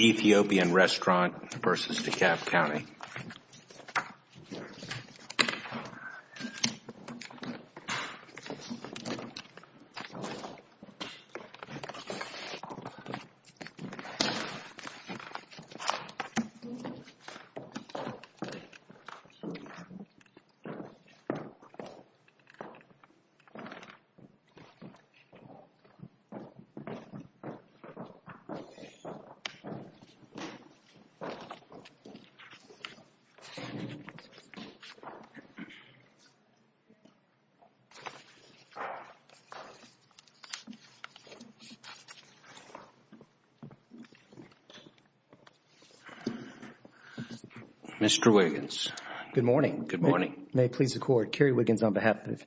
Ethiopian Restaurant v. DeKalb County Mr. Wiggins. Good morning. Good morning. May it please the Court, Kerry Wiggins on behalf of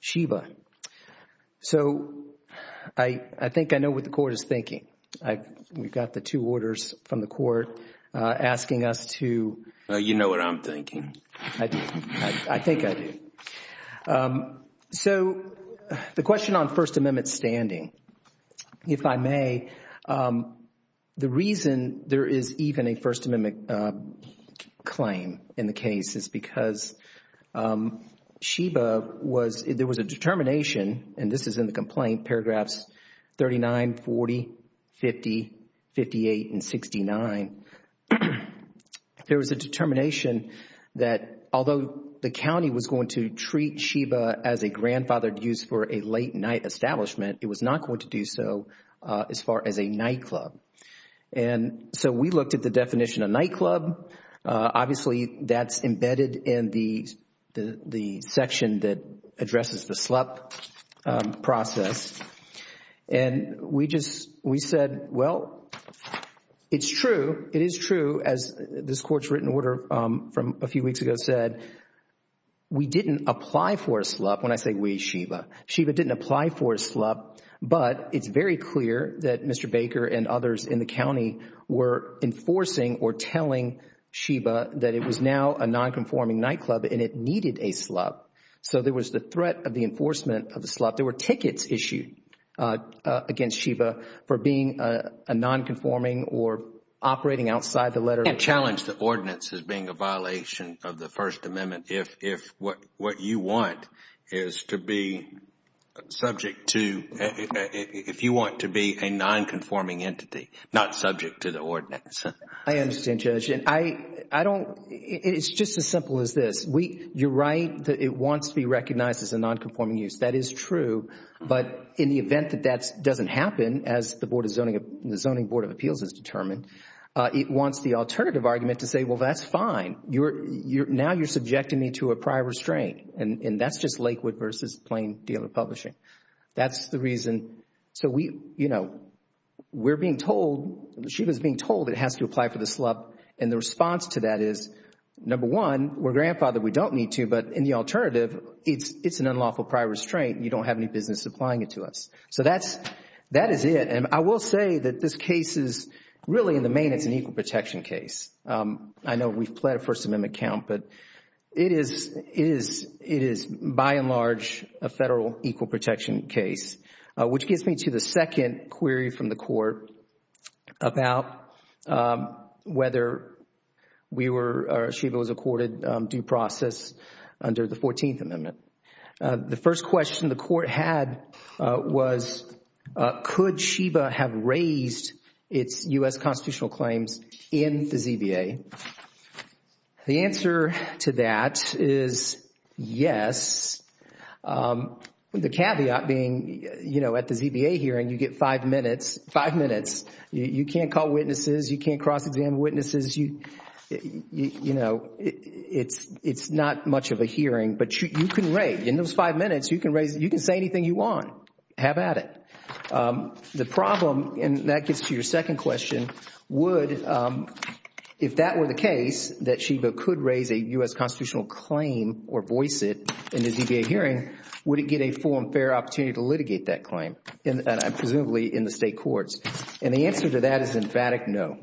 Sheba. So, I think I know what the Court is thinking. We've got the two orders from the Court asking us to. You know what I'm thinking. I do. I think I do. So, the question on First Amendment standing, if I may, the reason there is even a First Amendment claim in the case is because Sheba was, there was a determination, and this is in the complaint, paragraphs 39, 40, 50, 58, and 69. There was a determination that although the county was going to treat Sheba as a grandfathered use for a late night establishment, it was not going to do so as far as a nightclub. And so, we looked at the definition of nightclub. Obviously, that's embedded in the section that addresses the SLUP process. And we just, we said, well, it's true, it is true, as this Court's written order from a few weeks ago said we didn't apply for a SLUP. When I say we, Sheba. Sheba didn't apply for a SLUP, but it's very clear that Mr. Baker and others in the county were enforcing or telling Sheba that it was now a nonconforming nightclub and it needed a SLUP. So, there was the threat of the enforcement of the SLUP. There were tickets issued against Sheba for being a nonconforming or operating outside the letter. And challenged the ordinance as being a violation of the First Amendment if you want to be a nonconforming entity, not subject to the ordinance. I understand, Judge. And I don't, it's just as simple as this. You're right that it wants to be recognized as a nonconforming use. That is true. But in the event that that doesn't happen, as the Zoning Board of Appeals has determined, it wants the alternative argument to say, well, that's fine. Now, you're subjecting me to a prior restraint. And that's just Lakewood versus plain dealer publishing. That's the reason. So, we, you know, we're being told, Sheba's being told it has to apply for the SLUP. And the response to that is, number one, we're grandfathered. We don't need to. But in the alternative, it's an unlawful prior restraint. You don't have any business applying it to us. So, that's, that is it. And I will say that this case is really in the main, it's an equal protection case. I know we've pled a First Amendment count. But it is, it is, it is, by and large, a federal equal protection case, which gets me to the second query from the Court about whether we were, or Sheba was accorded due process under the Fourteenth Amendment. The first question the Court had was, could Sheba have raised its U.S. constitutional claims in the ZBA? The answer to that is yes. The caveat being, you know, at the ZBA hearing, you get five minutes, five minutes. You can't call witnesses. You can't cross-examine witnesses. You, you know, it's, it's not much of a hearing. But you can raise, in those five minutes, you can raise, you can say anything you want. Have at it. The problem, and that gets to your second question, would, if that were the case, that Sheba could raise a U.S. constitutional claim or voice it in the ZBA hearing, would it get a full and fair opportunity to litigate that claim? And presumably in the state courts. And the answer to that is emphatic no.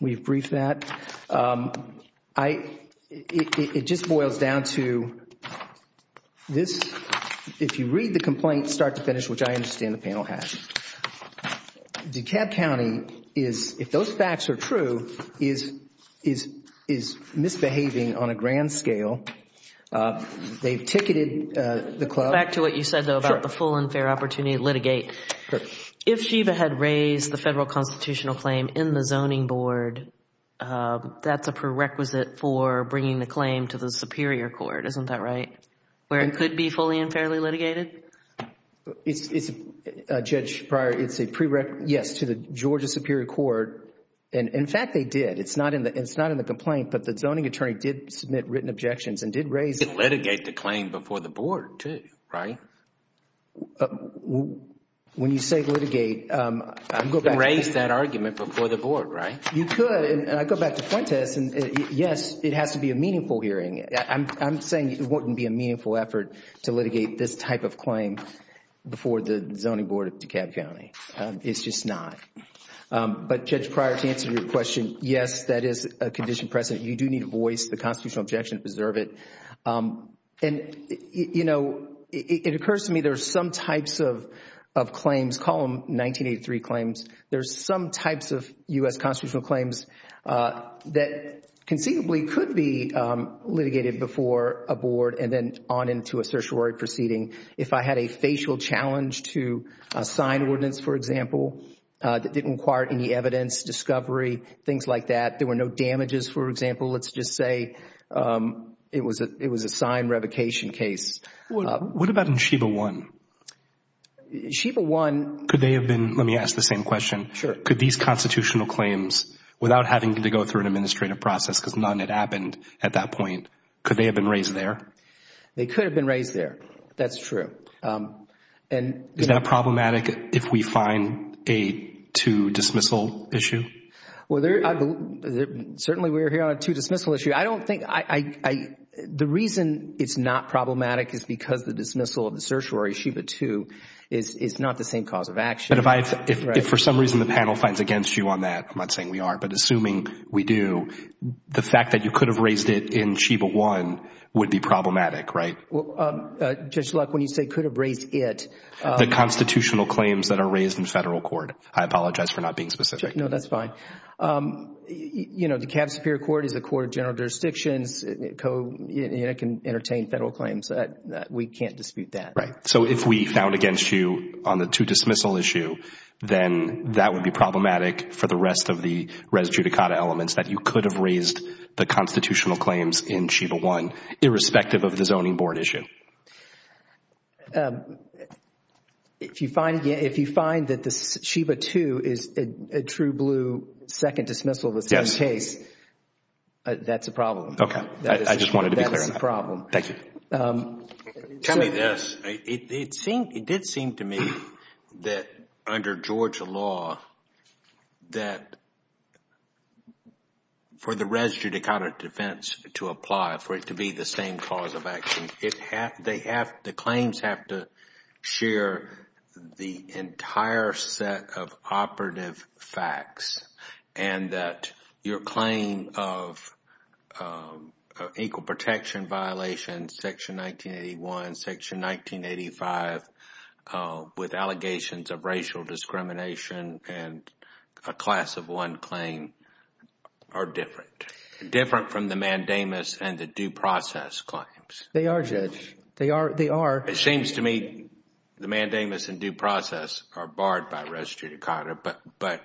We've briefed that. I, it just boils down to this. If you read the complaint start to finish, which I understand the panel has. DeKalb County is, if those facts are true, is, is, is misbehaving on a grand scale. They've ticketed the club. Back to what you said, though, about the full and fair opportunity to litigate. Correct. If Sheba had raised the federal constitutional claim in the zoning board, that's a prerequisite for bringing the claim to the Superior Court, isn't that right? Where it could be fully and fairly litigated? It's, it's, Judge Breyer, it's a prerequisite, yes, to the Georgia Superior Court. And, in fact, they did. It's not in the, it's not in the complaint. But the zoning attorney did submit written objections and did raise. Did litigate the claim before the board too, right? Well, when you say litigate, I'm going to go back. You could raise that argument before the board, right? You could, and I go back to Fuentes, and yes, it has to be a meaningful hearing. I'm, I'm saying it wouldn't be a meaningful effort to litigate this type of claim before the zoning board of DeKalb County. It's just not. But Judge Breyer, to answer your question, yes, that is a condition present. You do need a voice, the constitutional objection to preserve it. And, you know, it occurs to me there's some types of, of claims. Call them 1983 claims. There's some types of U.S. constitutional claims that conceivably could be litigated before a board and then on into a certiorari proceeding. If I had a facial challenge to a sign ordinance, for example, that didn't require any evidence, discovery, things like that. There were no damages, for example. Let's just say it was a, it was a signed revocation case. What about in SHIBA 1? SHIBA 1. Could they have been, let me ask the same question. Sure. Could these constitutional claims, without having to go through an administrative process, because none had happened at that point, could they have been raised there? They could have been raised there. That's true. And is that problematic if we find a to dismissal issue? Well, certainly we're here on a to dismissal issue. I don't think, I, the reason it's not problematic is because the dismissal of the certiorari, SHIBA 2, is not the same cause of action. But if I, if for some reason the panel finds against you on that, I'm not saying we are, but assuming we do, the fact that you could have raised it in SHIBA 1 would be problematic, right? Well, Judge Luck, when you say could have raised it. The constitutional claims that are raised in federal court. I apologize for not being specific. No, that's fine. You know, DeKalb Superior Court is a court of general jurisdictions, can entertain federal claims. We can't dispute that. Right. So if we found against you on the to dismissal issue, then that would be problematic for the rest of the res judicata elements that you could have raised the constitutional claims in SHIBA 1, irrespective of the zoning board issue. If you find that the SHIBA 2 is a true blue second dismissal of the same case, that's a problem. Okay. I just wanted to be clear on that. That's a problem. Thank you. Tell me this. It did seem to me that under Georgia law, that for the res judicata defense to apply, for it to be the same cause of action, the claims have to share the entire set of operative facts and that your claim of equal protection violations, section 1981, section 1985, with allegations of racial discrimination and a class of one claim are different. Different from the mandamus and the due process claims. They are, Judge. They are. They are. It seems to me the mandamus and due process are barred by res judicata, but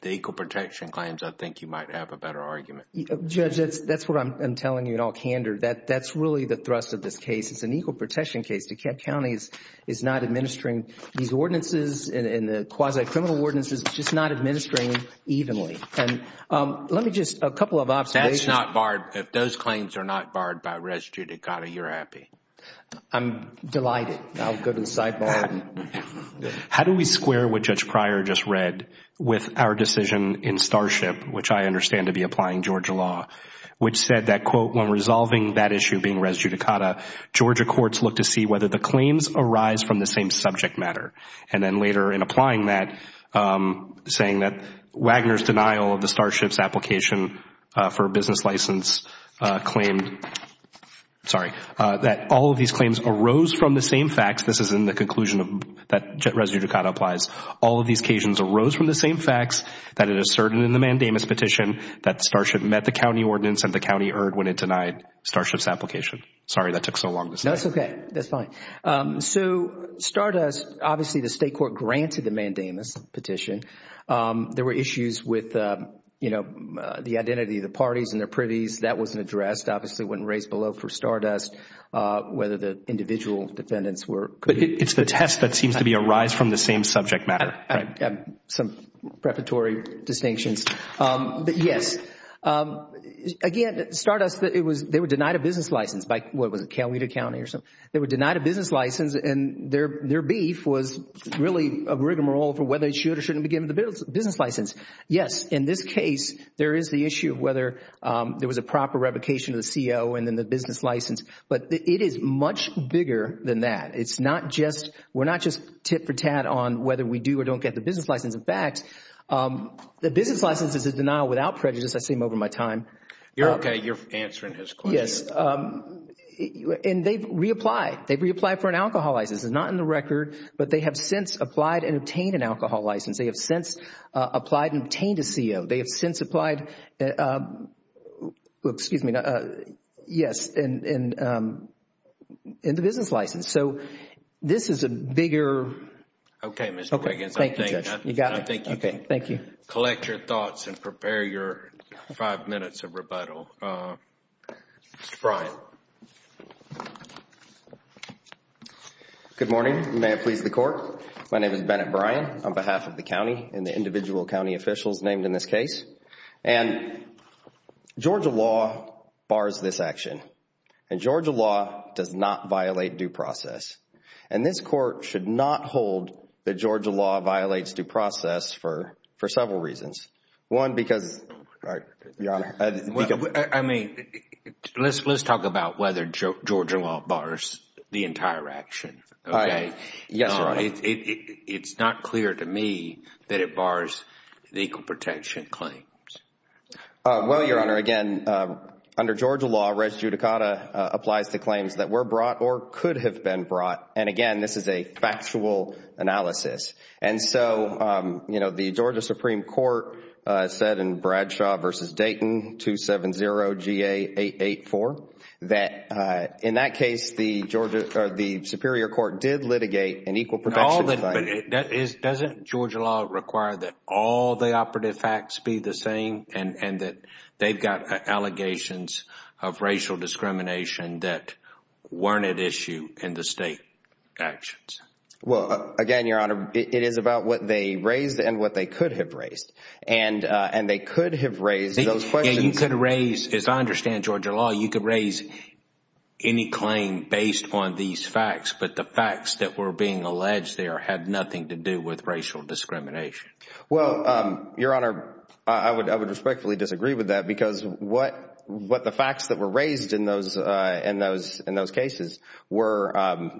the equal protection claims, I think you might have a better argument. Judge, that's what I'm telling you in all candor. That's really the thrust of this case. It's an equal protection case. DeKalb County is not administering these ordinances and the quasi-criminal ordinances, just not administering evenly. And let me just, a couple of observations. That's not barred. If those claims are not barred by res judicata, you're happy. I'm delighted. I'll go to the sidebar. How do we square what Judge Pryor just read with our decision in Starship, which I understand to be applying Georgia law, which said that, quote, when resolving that issue being res judicata, Georgia courts look to see whether the claims arise from the same subject matter. And then later in applying that, saying that Wagner's denial of the Starship's application for a business license claimed, sorry, that all of these claims arose from the same facts. This is in the conclusion that res judicata applies. All of these occasions arose from the same facts that it asserted in the mandamus petition that Starship met the county ordinance and the county erred when it denied Starship's application. Sorry, that took so long to say. That's okay. That's fine. So Stardust, obviously, the state court granted the mandamus petition. There were issues with, you know, the identity of the parties and their privies. That wasn't addressed. Obviously, it wasn't raised below for Stardust whether the individual defendants were. But it's the test that seems to be a rise from the same subject matter. Some preparatory distinctions. But yes. Again, Stardust, they were denied a business license by, what was it, Coweta County or something? They were denied a business license and their beef was really a rigmarole for whether they should or shouldn't be given the business license. Yes. In this case, there is the issue of whether there was a proper revocation of the CO and then the business license. But it is much bigger than that. It's not just, we're not just tit for tat on whether we do or don't get the business license. In fact, the business license is a denial without prejudice. I've seen them over my time. You're okay. You're answering his question. Yes. And they've reapplied. They've reapplied for an alcohol license. It's not in the record. But they have since applied and obtained an alcohol license. They have since applied and obtained a CO. They have since applied, excuse me, yes, in the business license. So this is a bigger. Okay, Mr. Wiggins. Thank you, Judge. You got it. I think you can. Thank you. Collect your thoughts and prepare your five minutes of rebuttal. Mr. Bryan. Good morning. May it please the Court. My name is Bennett Bryan on behalf of the county and the individual county officials named in this case. And Georgia law bars this action. And Georgia law does not violate due process. And this Court should not hold that Georgia law violates due process for several reasons. One, because, Your Honor. I mean, let's talk about whether Georgia law bars the entire action, okay? Yes, Your Honor. It's not clear to me that it bars legal protection claims. Well, Your Honor, again, under Georgia law, res judicata applies to claims that were brought or could have been brought. And again, this is a factual analysis. And so, you know, the Georgia Supreme Court said in Bradshaw v. Dayton, 270-GA-884, that in that case, the Georgia, or the Superior Court did litigate an equal protection claim. Doesn't Georgia law require that all the operative facts be the same and that they've got allegations of racial discrimination that weren't at issue in the state actions? Well, again, Your Honor, it is about what they raised and what they could have raised. And they could have raised those questions. Yeah, you could raise, as I understand Georgia law, you could raise any claim based on these facts. But the facts that were being alleged there had nothing to do with racial discrimination. Well, Your Honor, I would respectfully disagree with that because what the facts that were raised in those cases were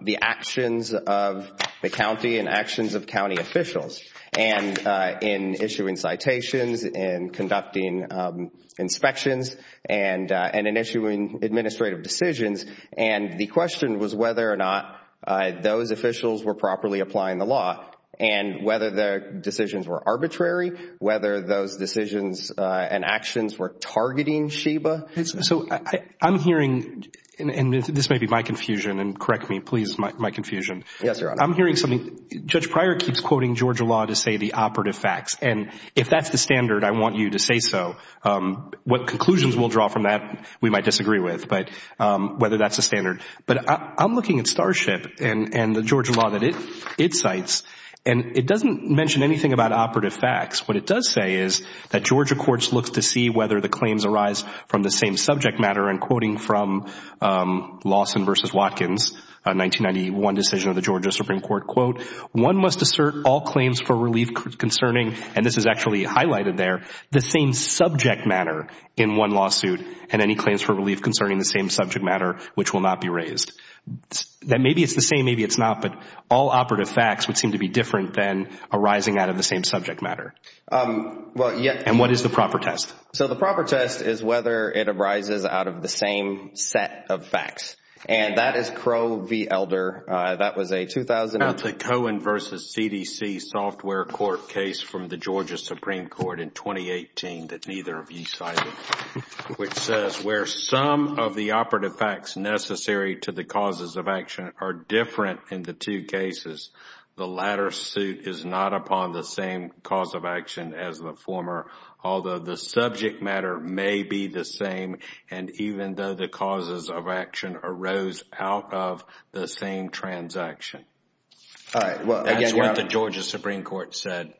the actions of the county and actions of county officials and in issuing citations and conducting inspections and in issuing administrative decisions. And the question was whether or not those officials were properly applying the law and whether their decisions were arbitrary, whether those decisions and actions were targeting SHIBA. So I'm hearing, and this may be my confusion, and correct me, please, my confusion. Yes, Your Honor. I'm hearing something. Judge Pryor keeps quoting Georgia law to say the operative facts. And if that's the standard, I want you to say so. What conclusions we'll draw from that, we might disagree with, but whether that's a standard. But I'm looking at Starship and the Georgia law that it cites, and it doesn't mention anything about operative facts. What it does say is that Georgia courts look to see whether the claims arise from the same subject matter. And quoting from Lawson v. Watkins, a 1991 decision of the Georgia Supreme Court, quote, one must assert all claims for relief concerning, and this is actually highlighted there, the same subject matter in one lawsuit and any claims for relief concerning the same subject matter, which will not be raised. That maybe it's the same, maybe it's not, but all operative facts would seem to be different than arising out of the same subject matter. And what is the proper test? So the proper test is whether it arises out of the same set of facts. And that is Crow v. Elder. That was a 2000. That's a Cohen v. CDC software court case from the Georgia Supreme Court in 2018 that the operative facts necessary to the causes of action are different in the two cases. The latter suit is not upon the same cause of action as the former, although the subject matter may be the same. And even though the causes of action arose out of the same transaction, that's what the Georgia Supreme Court said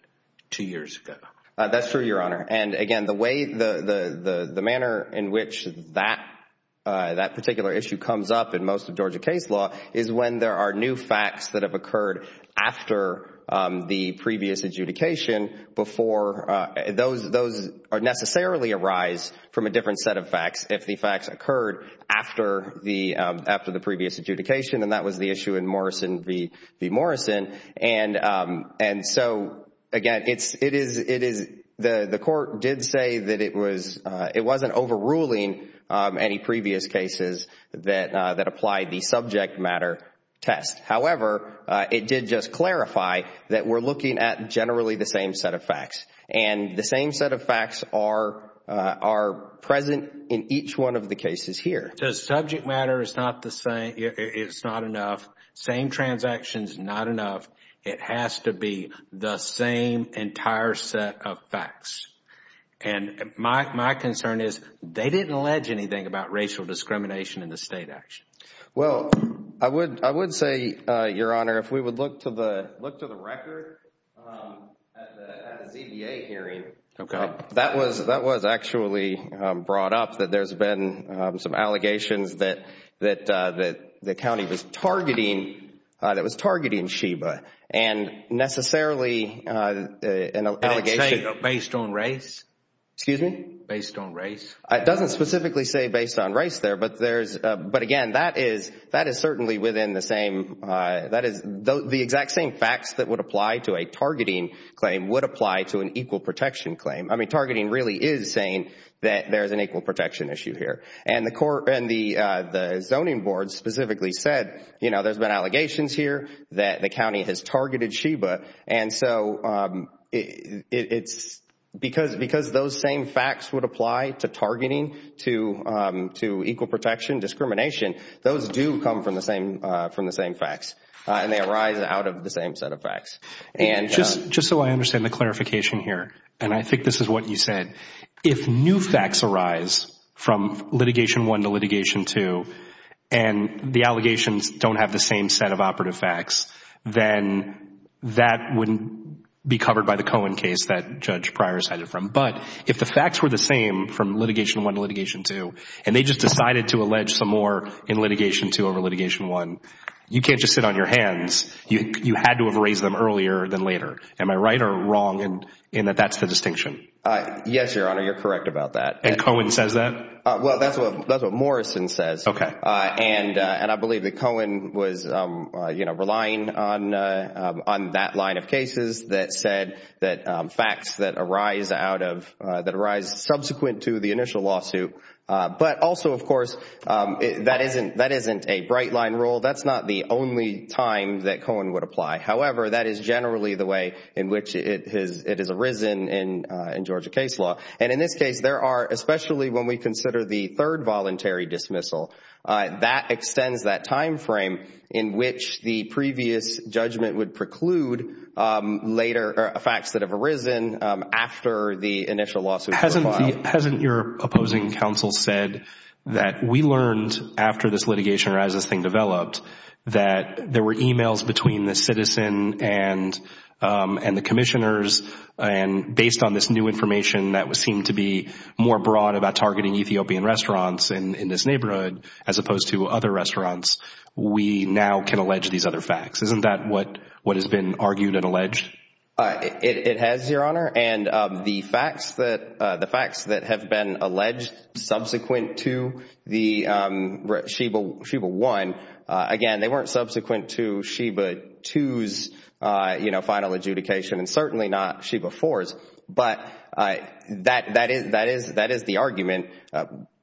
two years ago. That's true, Your Honor. And again, the way, the manner in which that particular issue comes up in most of Georgia case law is when there are new facts that have occurred after the previous adjudication before those necessarily arise from a different set of facts if the facts occurred after the previous adjudication, and that was the issue in Morrison v. Morrison. And so, again, it is, the court did say that it was, it wasn't overruling any previous cases that applied the subject matter test. However, it did just clarify that we're looking at generally the same set of facts. And the same set of facts are present in each one of the cases here. So subject matter is not the same, it's not enough. Same transactions, not enough. It has to be the same entire set of facts. And my concern is they didn't allege anything about racial discrimination in the state action. Well, I would say, Your Honor, if we would look to the record at the ZBA hearing, that was actually brought up that there's been some allegations that the county was targeting, that was targeting SHEBA. And necessarily an allegation It didn't say based on race? Excuse me? Based on race? It doesn't specifically say based on race there, but there's, but again, that is, that is certainly within the same, that is, the exact same facts that would apply to a targeting claim would apply to an equal protection claim. I mean, targeting really is saying that there's an equal protection issue here. And the court, and the zoning board specifically said, you know, there's been allegations here that the county has targeted SHEBA. And so it's, because those same facts would apply to targeting, to equal protection, discrimination, those do come from the same, from the same facts. And they arise out of the same set of facts. And just so I understand the clarification here, and I think this is what you said, if new facts arise from litigation one to litigation two, and the allegations don't have the same set of operative facts, then that wouldn't be covered by the Cohen case that Judge Pryor cited from. But if the facts were the same from litigation one to litigation two, and they just decided to allege some more in litigation two over litigation one, you can't just sit on your hands. You had to have raised them earlier than later. Am I right or wrong in that that's the distinction? Yes, Your Honor. You're correct about that. And Cohen says that? Well, that's what Morrison says. Okay. And I believe that Cohen was, you know, relying on that line of cases that said that facts that arise out of, that arise subsequent to the initial lawsuit. But also, of course, that isn't a bright line rule. That's not the only time that Cohen would apply. However, that is generally the way in which it has arisen in Georgia case law. And in this case, there are, especially when we consider the third voluntary dismissal, that extends that time frame in which the previous judgment would preclude later facts that have arisen after the initial lawsuit was filed. Hasn't your opposing counsel said that we learned after this litigation or as this thing developed that there were emails between the citizen and the commissioners and based on this new information that seemed to be more broad about targeting Ethiopian restaurants in this neighborhood as opposed to other restaurants, we now can allege these other facts? Isn't that what has been argued and alleged? It has, Your Honor. And the facts that the facts that have been alleged subsequent to the Sheba one, again, they weren't subsequent to Sheba twos, you know, final adjudication and certainly not Sheba fours. But that that is that is that is the argument.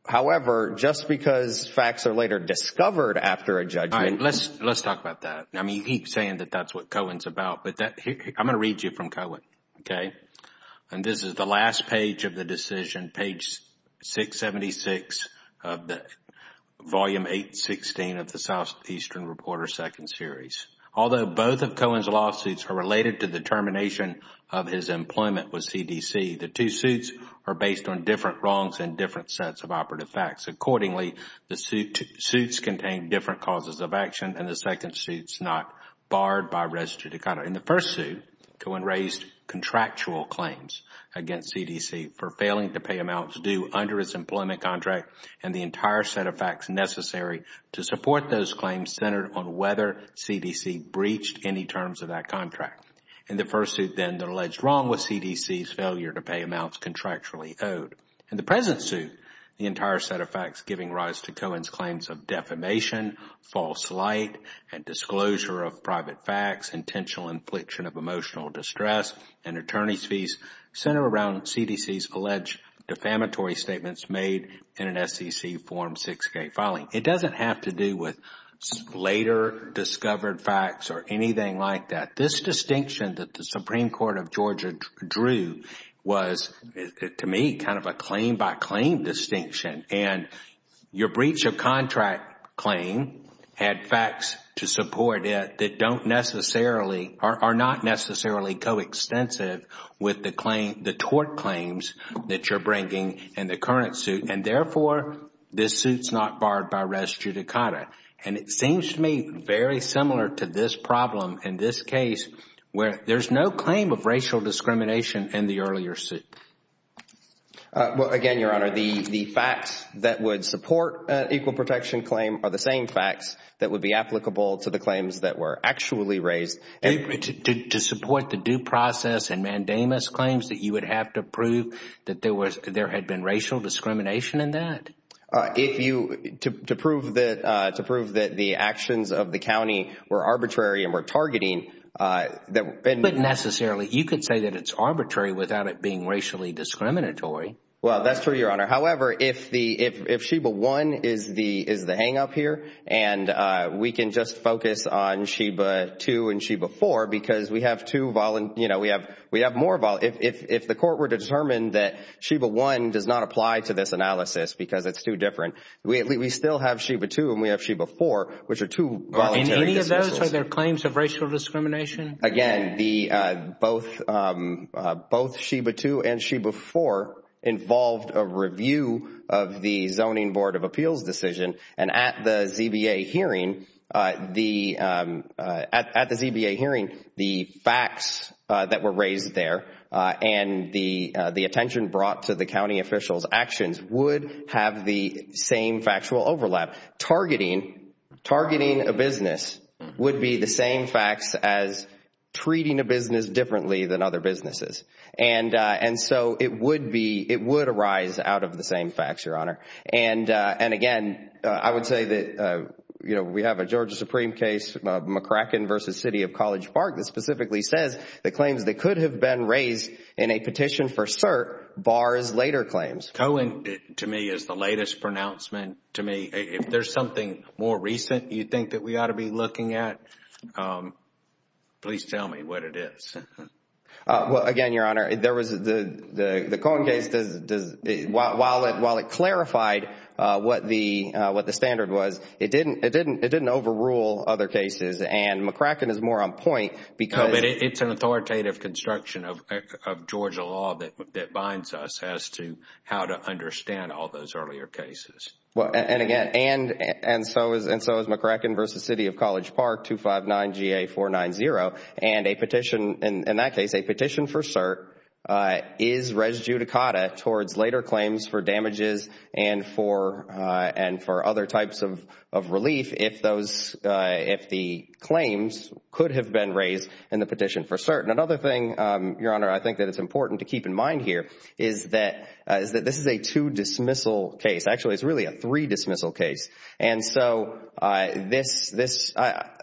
However, just because facts are later discovered after a judgment. Let's let's talk about that. I mean, you keep saying that that's what Cohen's about. But I'm going to read you from Cohen. OK, and this is the last page of the decision. Page 676 of the volume 816 of the Southeastern Reporter second series. Although both of Cohen's lawsuits are related to the termination of his employment with CDC, the two suits are based on different wrongs and different sets of operative facts. Accordingly, the suit suits contain different causes of action and the second suit is not barred by res judicata. In the first suit, Cohen raised contractual claims against CDC for failing to pay amounts due under its employment contract and the entire set of facts necessary to support those claims centered on whether CDC breached any terms of that contract. In the first suit, then, the alleged wrong was CDC's failure to pay amounts contractually owed. In the present suit, the entire set of facts giving rise to Cohen's claims of defamation, false light, and disclosure of private facts, intentional infliction of emotional distress, and attorney's fees center around CDC's alleged defamatory statements made in an SEC Form 6K filing. It doesn't have to do with later discovered facts or anything like that. This distinction that the Supreme Court of Georgia drew was, to me, kind of a claim by claim distinction. And your breach of contract claim had facts to support it that don't necessarily or are not necessarily coextensive with the tort claims that you're bringing in the current suit and, therefore, this suit's not barred by res judicata. And it seems to me very similar to this problem in this case where there's no claim of racial discrimination in the earlier suit. Well, again, Your Honor, the facts that would support an equal protection claim are the same facts that would be applicable to the claims that were actually raised. To support the due process and mandamus claims that you would have to prove that there had been racial discrimination in that? If you, to prove that, to prove that the actions of the county were arbitrary and were targeting that... But necessarily, you could say that it's arbitrary without it being racially discriminatory. Well, that's true, Your Honor. However, if the, if Sheba 1 is the hang up here and we can just focus on Sheba 2 and Sheba 4 because we have two, you know, we have more, if the court were to determine that Sheba 1 does not apply to this analysis because it's too different, we still have Sheba 2 and we have Sheba 4, which are two voluntary dismissals. And any of those are their claims of racial discrimination? Again, the, both Sheba 2 and Sheba 4 involved a review of the Zoning Board of Appeals decision and at the ZBA hearing, the, at the ZBA hearing, the facts that were raised there and the attention brought to the county officials actions would have the same factual overlap. Targeting, targeting a business would be the same facts as treating a business differently than other businesses. And, and so it would be, it would arise out of the same facts, Your Honor. And, and again, I would say that, you know, we have a Georgia Supreme case, McCracken versus City of College Park that specifically says the claims that could have been raised in a petition for cert bars later claims. Cohen, to me, is the latest pronouncement to me. If there's something more recent you think that we ought to be looking at, please tell me what it is. Well, again, Your Honor, there was the, the, the Cohen case does, does, while it, while it clarified what the, what the standard was, it didn't, it didn't, it didn't overrule other cases and McCracken is more on point because. It's an authoritative construction of, of Georgia law that, that binds us as to how to understand all those earlier cases. Well, and, and again, and, and so is, and so is McCracken versus City of College Park 259 GA 490. And a petition, in that case, a petition for cert is res judicata towards later claims for damages and for, and for other types of, of relief if those, if the claims could have been raised in the petition for cert. And another thing, Your Honor, I think that it's important to keep in mind here is that, is that this is a two dismissal case. Actually, it's really a three dismissal case. And so this, this,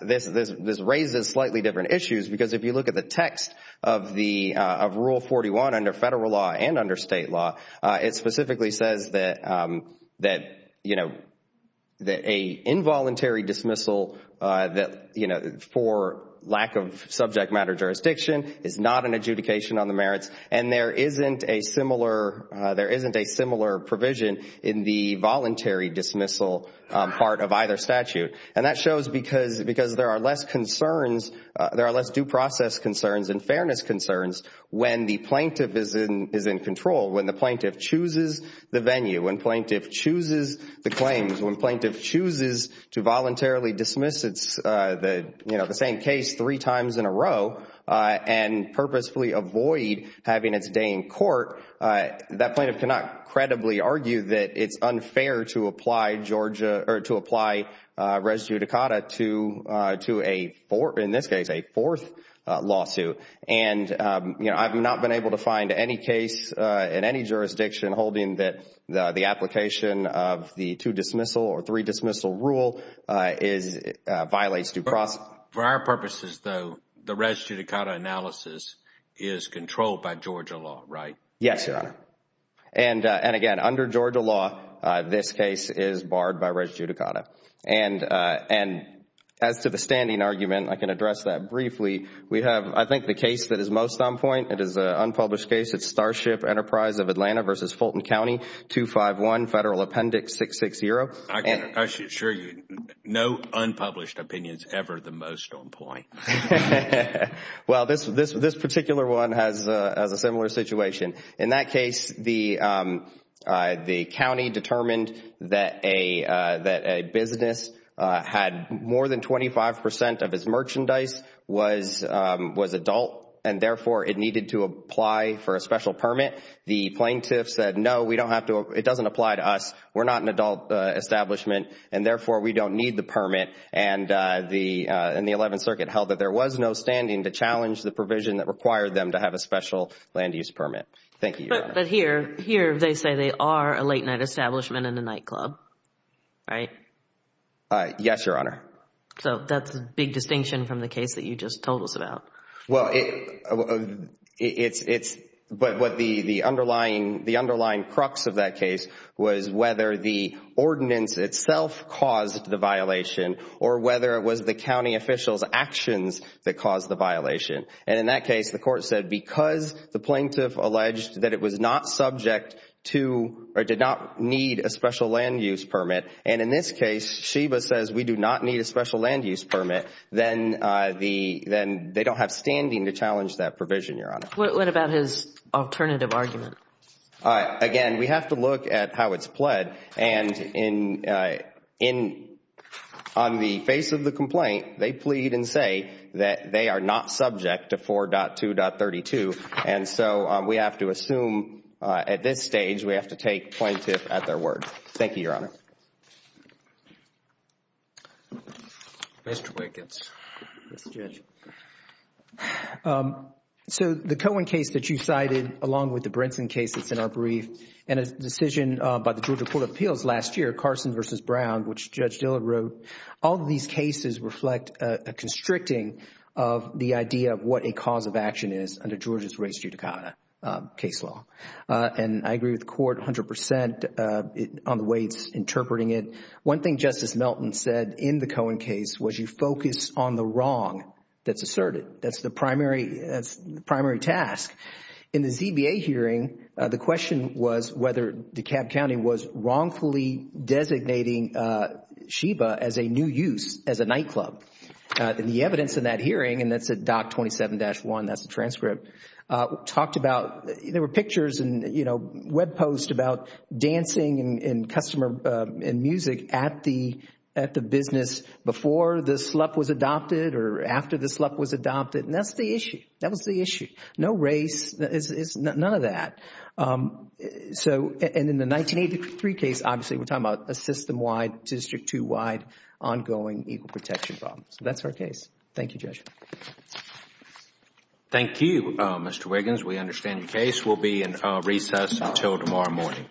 this, this raises slightly different issues because if you look at the text of the, of Rule 41 under federal law and under state law, it specifically says that, that, you know, that a involuntary dismissal that, you know, for lack of subject matter jurisdiction is not an adjudication on the merits. And there isn't a similar, there isn't a similar provision in the voluntary dismissal part of either statute. And that shows because, because there are less concerns, there are less due process concerns and fairness concerns when the plaintiff is in, is in control. When the plaintiff chooses the venue, when plaintiff chooses the claims, when plaintiff chooses to voluntarily dismiss its, the, you know, the same case three times in a row and purposefully avoid having its day in court, that plaintiff cannot credibly argue that it's unfair to apply Georgia, or to apply res judicata to, to a four, in this case, a fourth lawsuit. And, you know, I've not been able to find any case in any jurisdiction holding that the application of the two dismissal or three dismissal rule is, violates due process. For our purposes, though, the res judicata analysis is controlled by Georgia law, right? Yes, Your Honor. And, and again, under Georgia law, this case is barred by res judicata. And, and as to the standing argument, I can address that briefly. We have, I think the case that is most on point, it is an unpublished case. It's Starship Enterprise of Atlanta versus Fulton County, 251 Federal Appendix 660. I can assure you, no unpublished opinions ever the most on point. Well, this, this, this particular one has a similar situation. In that case, the, the county determined that a, that a business had more than 25 percent of its merchandise was, was adult. And therefore, it needed to apply for a special permit. The plaintiff said, no, we don't have to, it doesn't apply to us. We're not an adult establishment. And therefore, we don't need the permit. And the, and the 11th Circuit held that there was no standing to challenge the provision that required them to have a special land use permit. Thank you, Your Honor. But, but here, here they say they are a late night establishment and a nightclub, right? Yes, Your Honor. So that's a big distinction from the case that you just told us about. Well, it, it's, it's, but what the, the underlying, the underlying crux of that case was whether the ordinance itself caused the violation or whether it was the county official's actions that caused the violation. And in that case, the court said because the plaintiff alleged that it was not subject to, or did not need a special land use permit, and in this case, Sheba says we do not need a special land use permit, then the, then they don't have standing to challenge that provision, Your Honor. What, what about his alternative argument? Again, we have to look at how it's pled, and in, in, on the face of the complaint, they plead and say that they are not subject to 4.2.32. And so we have to assume at this stage, we have to take plaintiff at their word. Thank you, Your Honor. Mr. Wiggins. Yes, Judge. So the Cohen case that you cited, along with the Brinson case that's in our brief, and a decision by the Georgia Court of Appeals last year, Carson versus Brown, which Judge Dillard wrote, all these cases reflect a constricting of the idea of what a cause of action is under Georgia's race judicata case law. And I agree with the court 100 percent on the way it's interpreting it. One thing Justice Melton said in the Cohen case was you focus on the wrong that's asserted. That's the primary, that's the primary task. In the ZBA hearing, the question was whether DeKalb County was wrongfully designating Sheba as a new use, as a nightclub. And the evidence in that hearing, and that's at Doc 27-1, that's the transcript, talked about, there were pictures and, you know, web posts about dancing and customer and music at the business before the slup was adopted or after the slup was adopted. And that's the issue. That was the issue. No race, none of that. So, and in the 1983 case, obviously, we're talking about a system-wide, District 2-wide, ongoing equal protection problem. So that's our case. Thank you, Judge. Thank you, Mr. Wiggins. We understand the case will be in recess until tomorrow morning. Thank you.